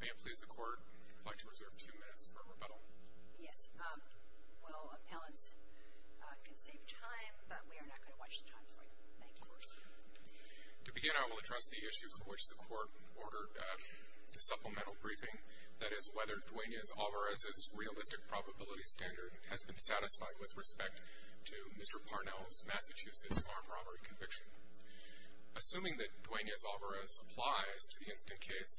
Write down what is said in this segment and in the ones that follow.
May it please the Court, I'd like to reserve two minutes for rebuttal. Yes, well, appellants, it can save time, but we are not going to watch the time for you. Thank you. Of course. To begin, I will address the issue for which the Court ordered a supplemental briefing, that is whether Duenas-Alvarez's realistic probability standard has been satisfied with respect to Mr. Parnell's Massachusetts armed robbery conviction. Assuming that Duenas-Alvarez applies to the instant case,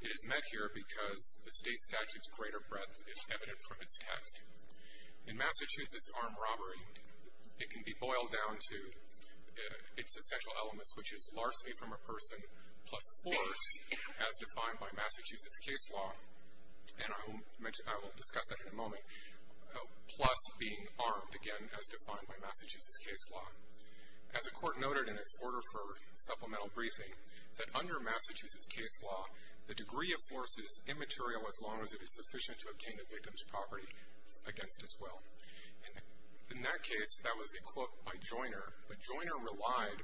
it is met here because the state statute's greater breadth is evident from its text. In Massachusetts armed robbery, it can be boiled down to its essential elements, which is larceny from a person plus force, as defined by Massachusetts case law, and I will discuss that in a moment, plus being armed, again, as defined by Massachusetts case law. As the Court noted in its order for supplemental briefing, that under Massachusetts case law, the degree of force is immaterial as long as it is sufficient to obtain the victim's property against his will. In that case, that was a quote by Joiner, but Joiner relied,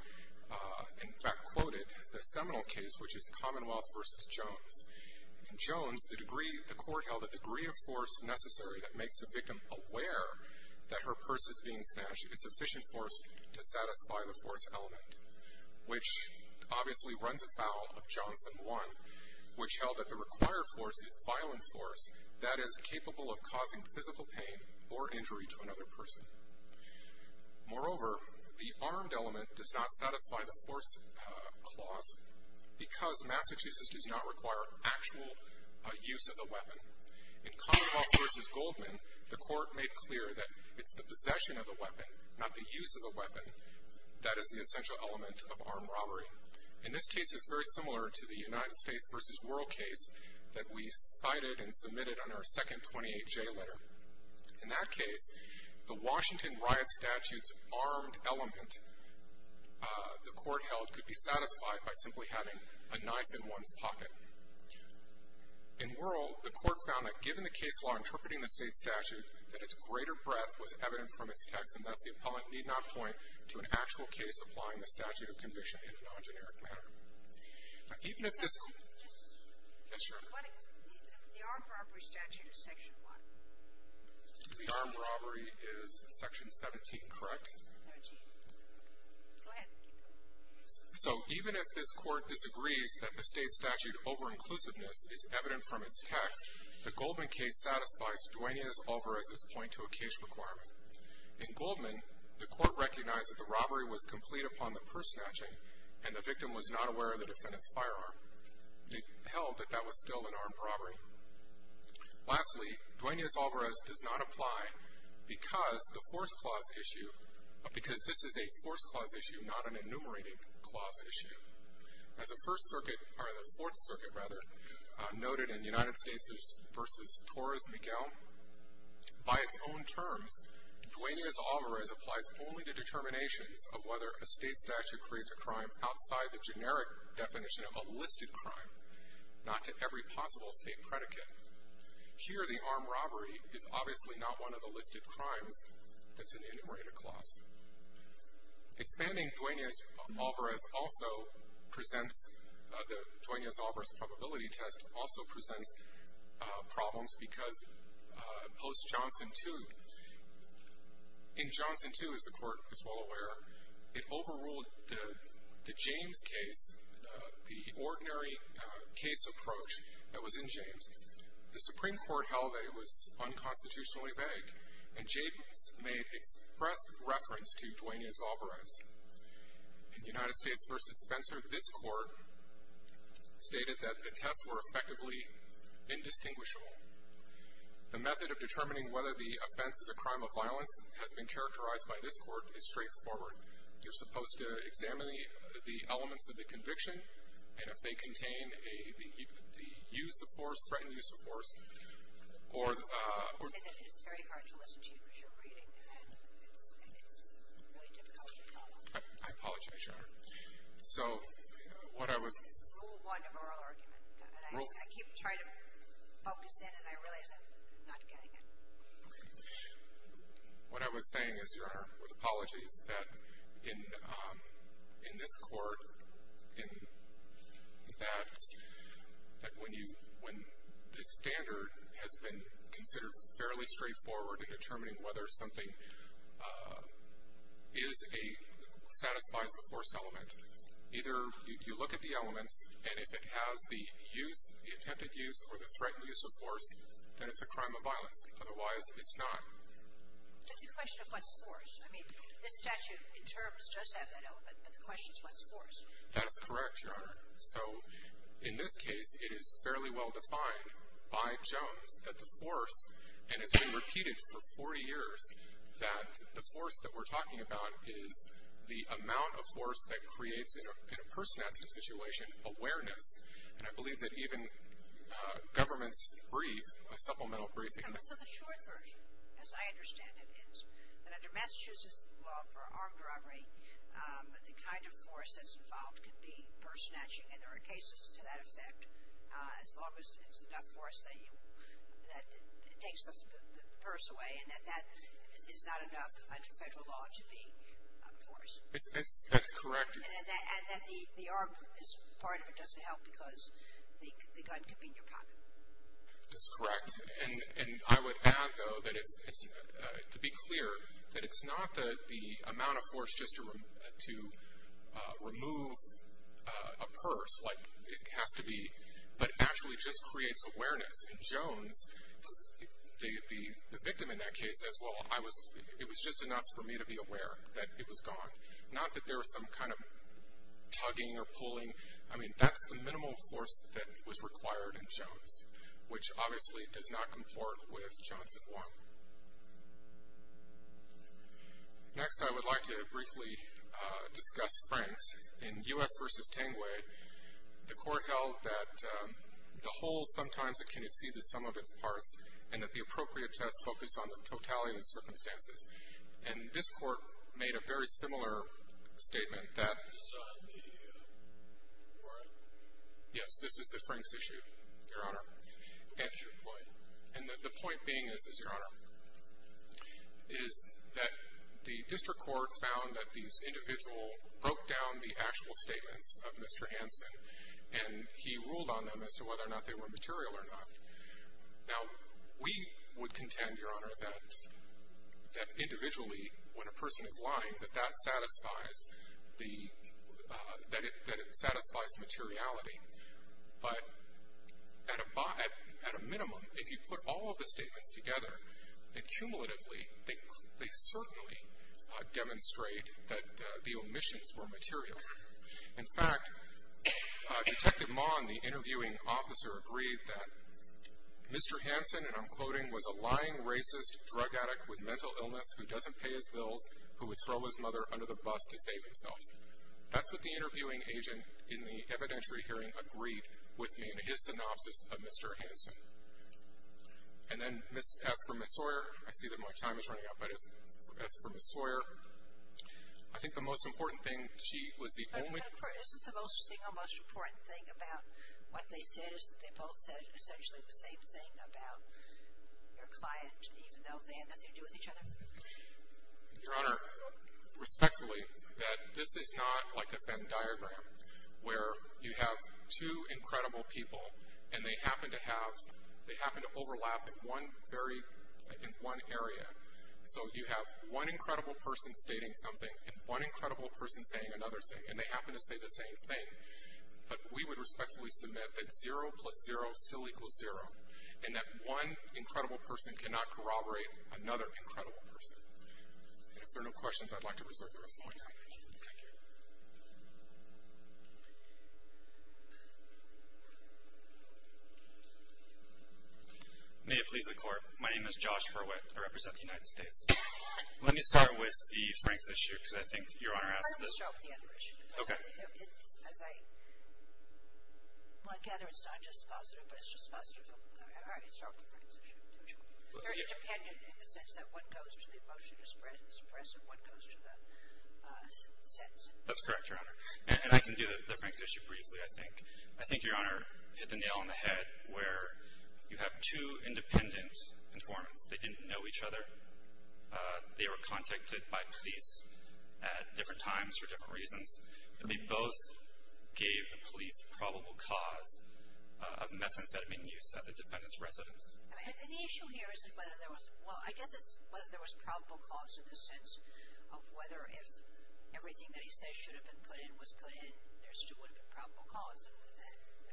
in fact quoted, the seminal case, which is Commonwealth v. Jones. In Jones, the degree, the Court held the degree of force necessary that makes the victim aware that her purse is being snatched is sufficient force to satisfy the force element, which obviously runs afoul of Johnson 1, which held that the required force is violent force that is capable of causing physical pain or injury to another person. Moreover, the armed element does not satisfy the force clause because Massachusetts does not require actual use of the weapon. In Commonwealth v. Goldman, the Court made clear that it's the possession of the weapon, not the use of the weapon, that is the essential element of armed robbery. And this case is very similar to the United States v. Wuerl case that we cited and submitted on our second 28J letter. In that case, the Washington riot statute's armed element, the Court held, could be satisfied by simply having a knife in one's pocket. In Wuerl, the Court found that given the case law interpreting the state statute, that its greater breadth was evident from its text, and thus the appellant need not point to an actual case applying the statute of conviction in a non-generic manner. Now, even if this... Yes, Your Honor. The armed robbery statute is section what? The armed robbery is section 17, correct? No, it's 18. Go ahead. So even if this Court disagrees that the state statute over-inclusiveness is evident from its text, the Goldman case satisfies Duenas-Alvarez's point to a case requirement. In Goldman, the Court recognized that the robbery was complete upon the purse snatching, and the victim was not aware of the defendant's firearm. It held that that was still an armed robbery. Lastly, Duenas-Alvarez does not apply because this is a force clause issue, not an enumerated clause issue. As the Fourth Circuit noted in United States v. Torres-Miguel, by its own terms, Duenas-Alvarez applies only to determinations of whether a state statute creates a crime outside the generic definition of a listed crime, not to every possible state predicate. Here, the armed robbery is obviously not one of the listed crimes that's in the enumerated clause. Expanding Duenas-Alvarez also presents, the Duenas-Alvarez probability test also presents problems because post Johnson 2, in Johnson 2, as the Court is well aware, it overruled the James case, the ordinary case approach that was in James. The Supreme Court held that it was unconstitutionally vague, and James may express reference to Duenas-Alvarez. In United States v. Spencer, this Court stated that the tests were effectively indistinguishable. The method of determining whether the offense is a crime of violence has been characterized by this Court as straightforward. You're supposed to examine the elements of the conviction, and if they contain the use of force, threatened use of force, or the- I have to listen to you because you're reading, and it's really difficult to follow. I apologize, Your Honor. So, what I was- Rule one of oral argument. Rule- I keep trying to focus in, and I realize I'm not getting it. What I was saying is, Your Honor, with apologies, that in this Court, in that, that when you-when the standard has been considered fairly straightforward in determining whether something is a-satisfies the force element, either you look at the elements, and if it has the use, the attempted use, or the threatened use of force, then it's a crime of violence. Otherwise, it's not. It's a question of what's force. I mean, this statute, in terms, does have that element, but the question is what's force. That is correct, Your Honor. So, in this case, it is fairly well defined by Jones that the force, and has been repeated for 40 years, that the force that we're talking about is the amount of force that creates in a person at some situation awareness. And I believe that even government's brief, a supplemental briefing- So, the short version, as I understand it, is that under Massachusetts law for armed robbery, the kind of force that's involved could be purse snatching, and there are cases to that effect. As long as it's enough force that you, that it takes the purse away, and that that is not enough under federal law to be force. That's correct. And that the armed is part of it doesn't help because the gun could be in your pocket. That's correct. And I would add, though, that it's, to be clear, that it's not the amount of force just to remove a purse, like it has to be, but actually just creates awareness. In Jones, the victim in that case says, well, I was, it was just enough for me to be aware that it was gone. Not that there was some kind of tugging or pulling. I mean, that's the minimal force that was required in Jones, which obviously does not comport with Johnson 1. Next, I would like to briefly discuss Franks. In U.S. v. Tanguay, the court held that the whole sometimes can exceed the sum of its parts and that the appropriate test focused on the totality of the circumstances. And this court made a very similar statement. Yes, this is the Franks issue, Your Honor. And the point being is, is, Your Honor, is that the district court found that these individual broke down the actual statements of Mr. Hanson and he ruled on them as to whether or not they were material or not. Now, we would contend, Your Honor, that individually, when a person is lying, that that satisfies the, that it satisfies materiality. But at a minimum, if you put all of the statements together, they cumulatively, they certainly demonstrate that the omissions were material. In fact, Detective Maughan, the interviewing officer, agreed that Mr. Hanson, and I'm quoting, was a lying, racist, drug addict with mental illness who doesn't pay his bills, who would throw his mother under the bus to save himself. That's what the interviewing agent in the evidentiary hearing agreed with me in his synopsis of Mr. Hanson. And then as for Ms. Sawyer, I see that my time is running out, but as for Ms. Sawyer, I think the most important thing she was the only. Isn't the most single most important thing about what they said is that they both said essentially the same thing about their client, even though they had nothing to do with each other? Your Honor, respectfully, that this is not like a Venn diagram, where you have two incredible people and they happen to have, they happen to overlap in one very, in one area. So you have one incredible person stating something and one incredible person saying another thing, and they happen to say the same thing. But we would respectfully submit that zero plus zero still equals zero, and that one incredible person cannot corroborate another incredible person. And if there are no questions, I'd like to reserve the rest of my time. Thank you. Thank you. May it please the Court, my name is Josh Berwick. I represent the United States. Let me start with the Franks issue, because I think Your Honor asked this. Let me start with the other issue. Okay. As I gather it's not just positive, but it's just positive. All right, let's start with the Franks issue. They're independent in the sense that one goes to the motion to suppress and one goes to the sentence. That's correct, Your Honor. And I can do the Franks issue briefly, I think. I think Your Honor hit the nail on the head where you have two independent informants. They didn't know each other. They were contacted by police at different times for different reasons. They both gave the police probable cause of methamphetamine use at the defendant's residence. And the issue here isn't whether there was, well, I guess it's whether there was probable cause in the sense of whether if everything that he says should have been put in was put in, there still would have been probable cause.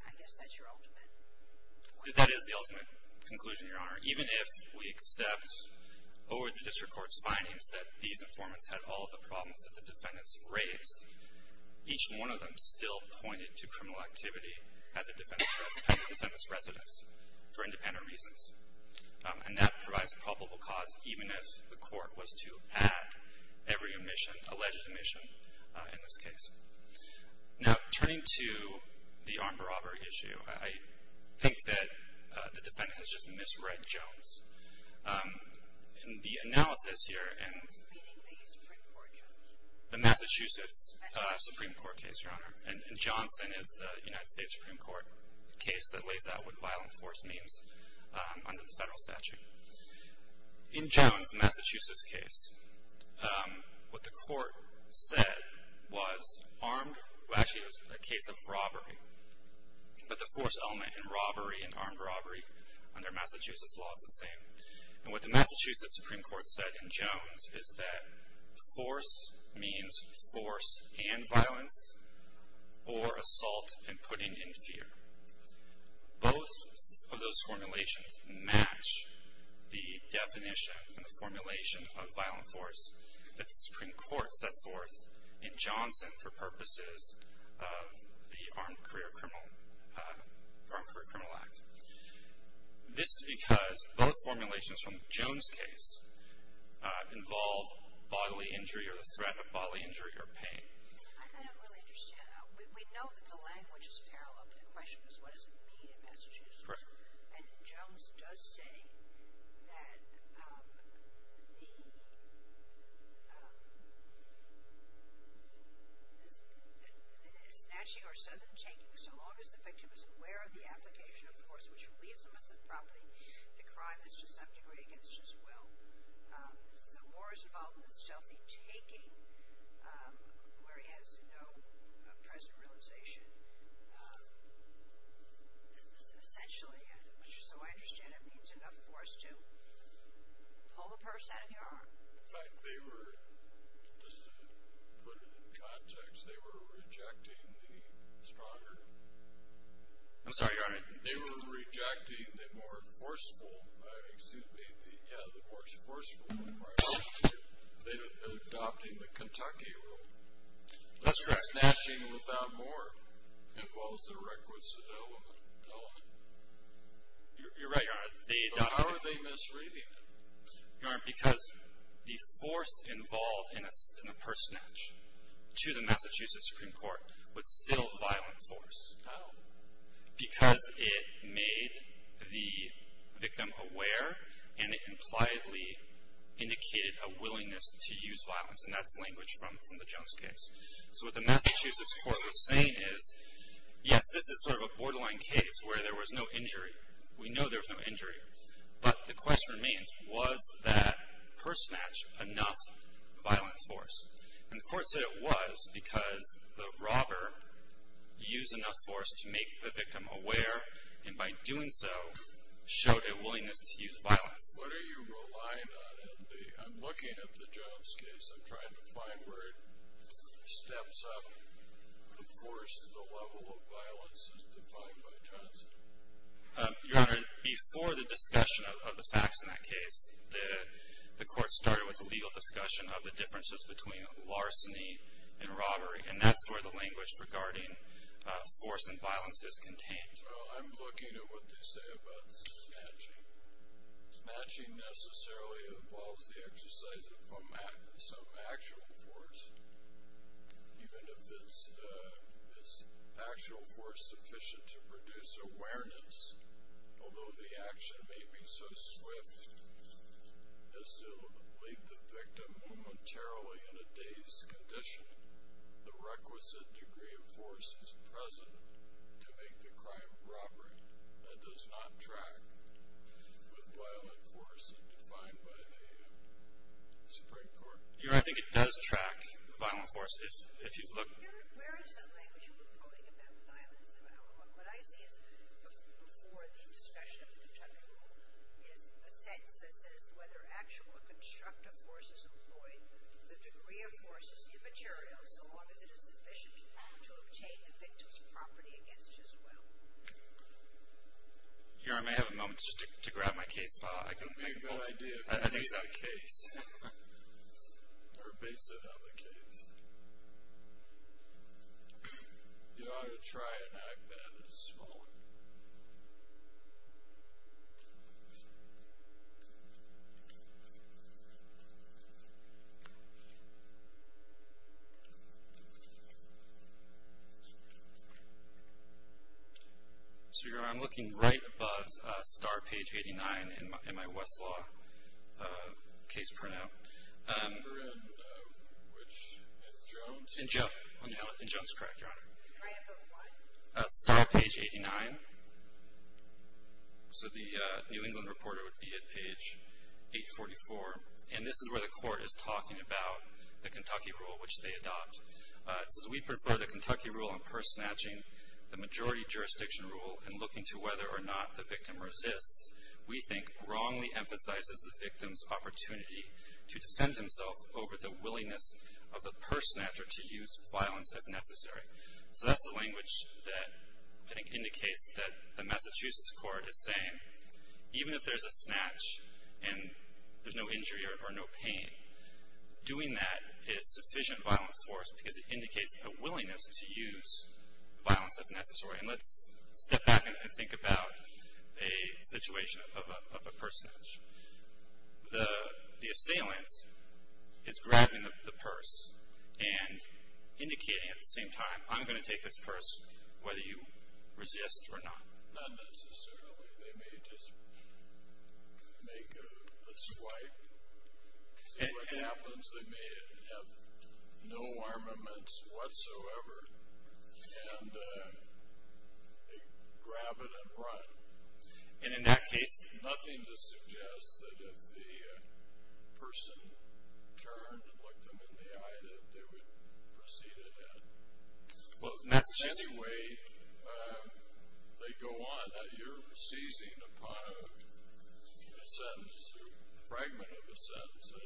I guess that's your ultimate point. That is the ultimate conclusion, Your Honor. Even if we accept over the district court's findings that these informants had all of the problems that the defendants had raised, each one of them still pointed to criminal activity at the defendant's residence for independent reasons. And that provides probable cause even if the court was to add every alleged omission in this case. Now, turning to the armed robbery issue, I think that the defendant has just misread Jones. In the analysis here in the Massachusetts Supreme Court case, Your Honor, and Johnson is the United States Supreme Court case that lays out what violent force means under the federal statute. In Jones, the Massachusetts case, what the court said was armed, well, actually it was a case of robbery, but the force element in robbery and armed robbery under Massachusetts law is the same. And what the Massachusetts Supreme Court said in Jones is that force means force and violence or assault and putting in fear. Both of those formulations match the definition and the formulation of violent force that the Supreme Court set forth in Johnson for purposes of the Armed Career Criminal Act. This is because both formulations from the Jones case involve bodily injury or the threat of bodily injury or pain. I don't really understand. We know that the language is parallel, but the question is what does it mean in Massachusetts? And Jones does say that the snatching or sudden taking, so long as the victim is aware of the application, of course, which leaves him as a property, the crime is to some degree against his will. So more is involved in the stealthy taking where he has no present realization. Essentially, so I understand it means enough force to pull a purse out of your arm. In fact, they were, just to put it in context, they were rejecting the stronger. I'm sorry, Your Honor. They were rejecting the more forceful, excuse me, yeah, the more forceful. They were adopting the Kentucky rule. That's correct. Snatching without more involves the requisite element. You're right, Your Honor. But how are they misreading it? Your Honor, because the force involved in a purse snatch to the Massachusetts Supreme Court was still violent force. How? Because it made the victim aware and it impliedly indicated a willingness to use violence, and that's language from the Jones case. So what the Massachusetts court was saying is, yes, this is sort of a borderline case where there was no injury. We know there was no injury. But the question remains, was that purse snatch enough violent force? And the court said it was because the robber used enough force to make the victim aware and by doing so showed a willingness to use violence. What are you relying on? I'm looking at the Jones case. I'm trying to find where it steps up the force and the level of violence as defined by Jones. Your Honor, before the discussion of the facts in that case, the court started with a legal discussion of the differences between larceny and robbery, and that's where the language regarding force and violence is contained. I'm looking at what they say about snatching. Snatching necessarily involves the exercise of some actual force. Even if it's actual force sufficient to produce awareness, although the action may be so swift as to leave the victim momentarily in a dazed condition, the requisite degree of force is present to make the crime of robbery. That does not track with violent force as defined by the Supreme Court. Your Honor, I think it does track violent force. Your Honor, where is that language you've been quoting about violence? What I see is before the discussion of the Kentucky rule is a sentence that says whether actual or constructive force is employed, the degree of force is immaterial so long as it is sufficient to obtain the victim's property against his will. Your Honor, may I have a moment just to grab my case file? I can make a motion. I have no idea how to base that case, or base it on the case. Your Honor, try an act that is smaller. So, Your Honor, I'm looking right above star page 89 in my Westlaw case printout. In which? In Jones? In Jones. In Jones, correct, Your Honor. Try it for what? Star page 89. So the New England Reporter would be at page 844. And this is where the court is talking about the Kentucky rule which they adopt. It says, we prefer the Kentucky rule on purse snatching, the majority jurisdiction rule, and looking to whether or not the victim resists, we think, wrongly emphasizes the victim's opportunity to defend himself over the willingness of the purse snatcher to use violence if necessary. So that's the language that I think indicates that the Massachusetts court is saying, even if there's a snatch and there's no injury or no pain, doing that is sufficient violence for us because it indicates a willingness to use violence if necessary. And let's step back and think about a situation of a purse snatch. The assailant is grabbing the purse and indicating at the same time, I'm going to take this purse whether you resist or not. Not necessarily. They may just make a swipe. See what happens. They may have no armaments whatsoever and they grab it and run. And in that case, nothing to suggest that if the person turned and looked them in the eye, that they would proceed ahead. In any way, they go on. You're seizing upon a sentence, a fragment of a sentence. I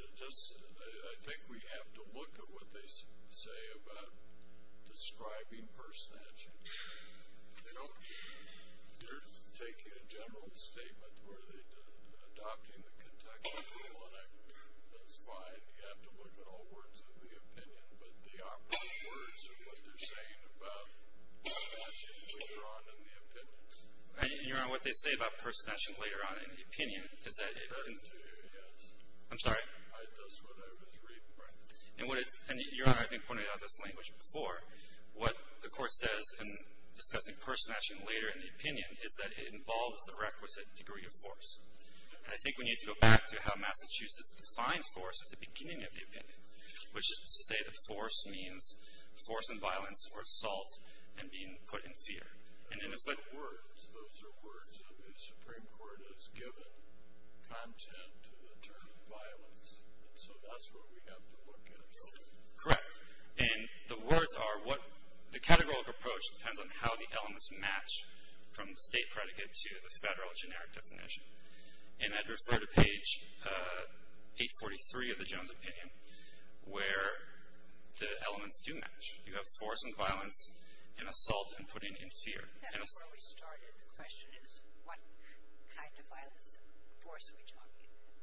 think we have to look at what they say about describing purse snatching. They're taking a general statement where they're adopting the contextual rule, and that's fine. You have to look at all words of the opinion, but the operative words of what they're saying about purse snatching later on in the opinion. And, Your Honor, what they say about purse snatching later on in the opinion is that it doesn't do you any good. I'm sorry? It does what I was reading. And, Your Honor, I think pointed out this language before. What the Court says in discussing purse snatching later in the opinion is that it involves the requisite degree of force. And I think we need to go back to how Massachusetts defined force at the beginning of the opinion, which is to say that force means force and violence or assault and being put in fear. And then it's like words. Those are words that the Supreme Court has given content to the term violence, and so that's where we have to look at it. Correct. And the words are what the categorical approach depends on how the elements match from the state predicate to the federal generic definition. And I'd refer to page 843 of the Jones opinion where the elements do match. You have force and violence and assault and putting in fear. And that's where we started. The question is what kind of violence and force are we talking about?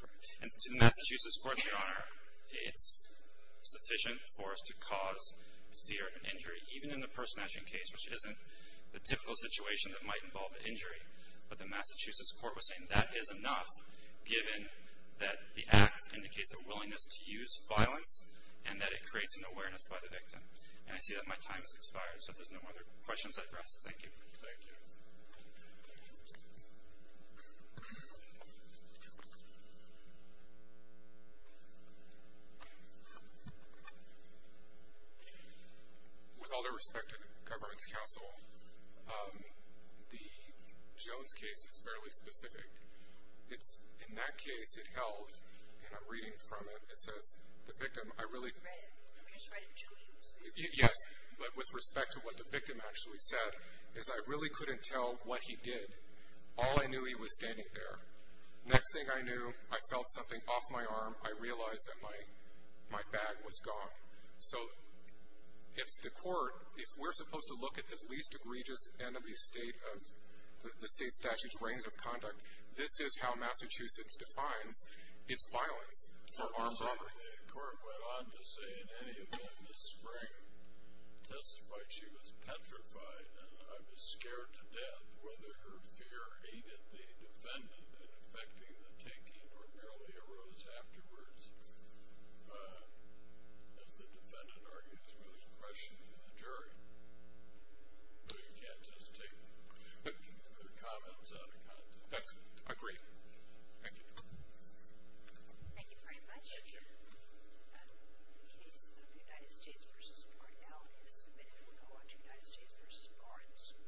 Correct. And to the Massachusetts Court, Your Honor, it's sufficient for us to cause fear and injury, even in the purse snatching case, which isn't the typical situation that might involve injury. But the Massachusetts Court was saying that is enough, given that the act indicates a willingness to use violence and that it creates an awareness by the victim. And I see that my time has expired, so if there's no other questions, I press. Thank you. Thank you. With all due respect to the Governance Council, the Jones case is fairly specific. In that case, it held, and I'm reading from it, it says, the victim, I really... I read it. I'm just writing to you, so... Yes. But with respect to what the victim actually said, is I really couldn't tell what he did. All I knew, he was standing there. Next thing I knew, I felt something off my arm. I realized that my bag was gone. So if the court, if we're supposed to look at the least egregious enemy state of the state statute's of conduct, this is how Massachusetts defines its violence for armed robbery. The court went on to say, in any event, this spring testified she was petrified and I was scared to death whether her fear aided the defendant in effecting the taking or merely arose afterwards, as the defendant argues with the question of the jury. Well, you can't just take the comments out of context. That's agreed. Thank you. Thank you very much. Thank you. The case of the United States v. Barnell is submitted. We'll go on to United States v. Barnes.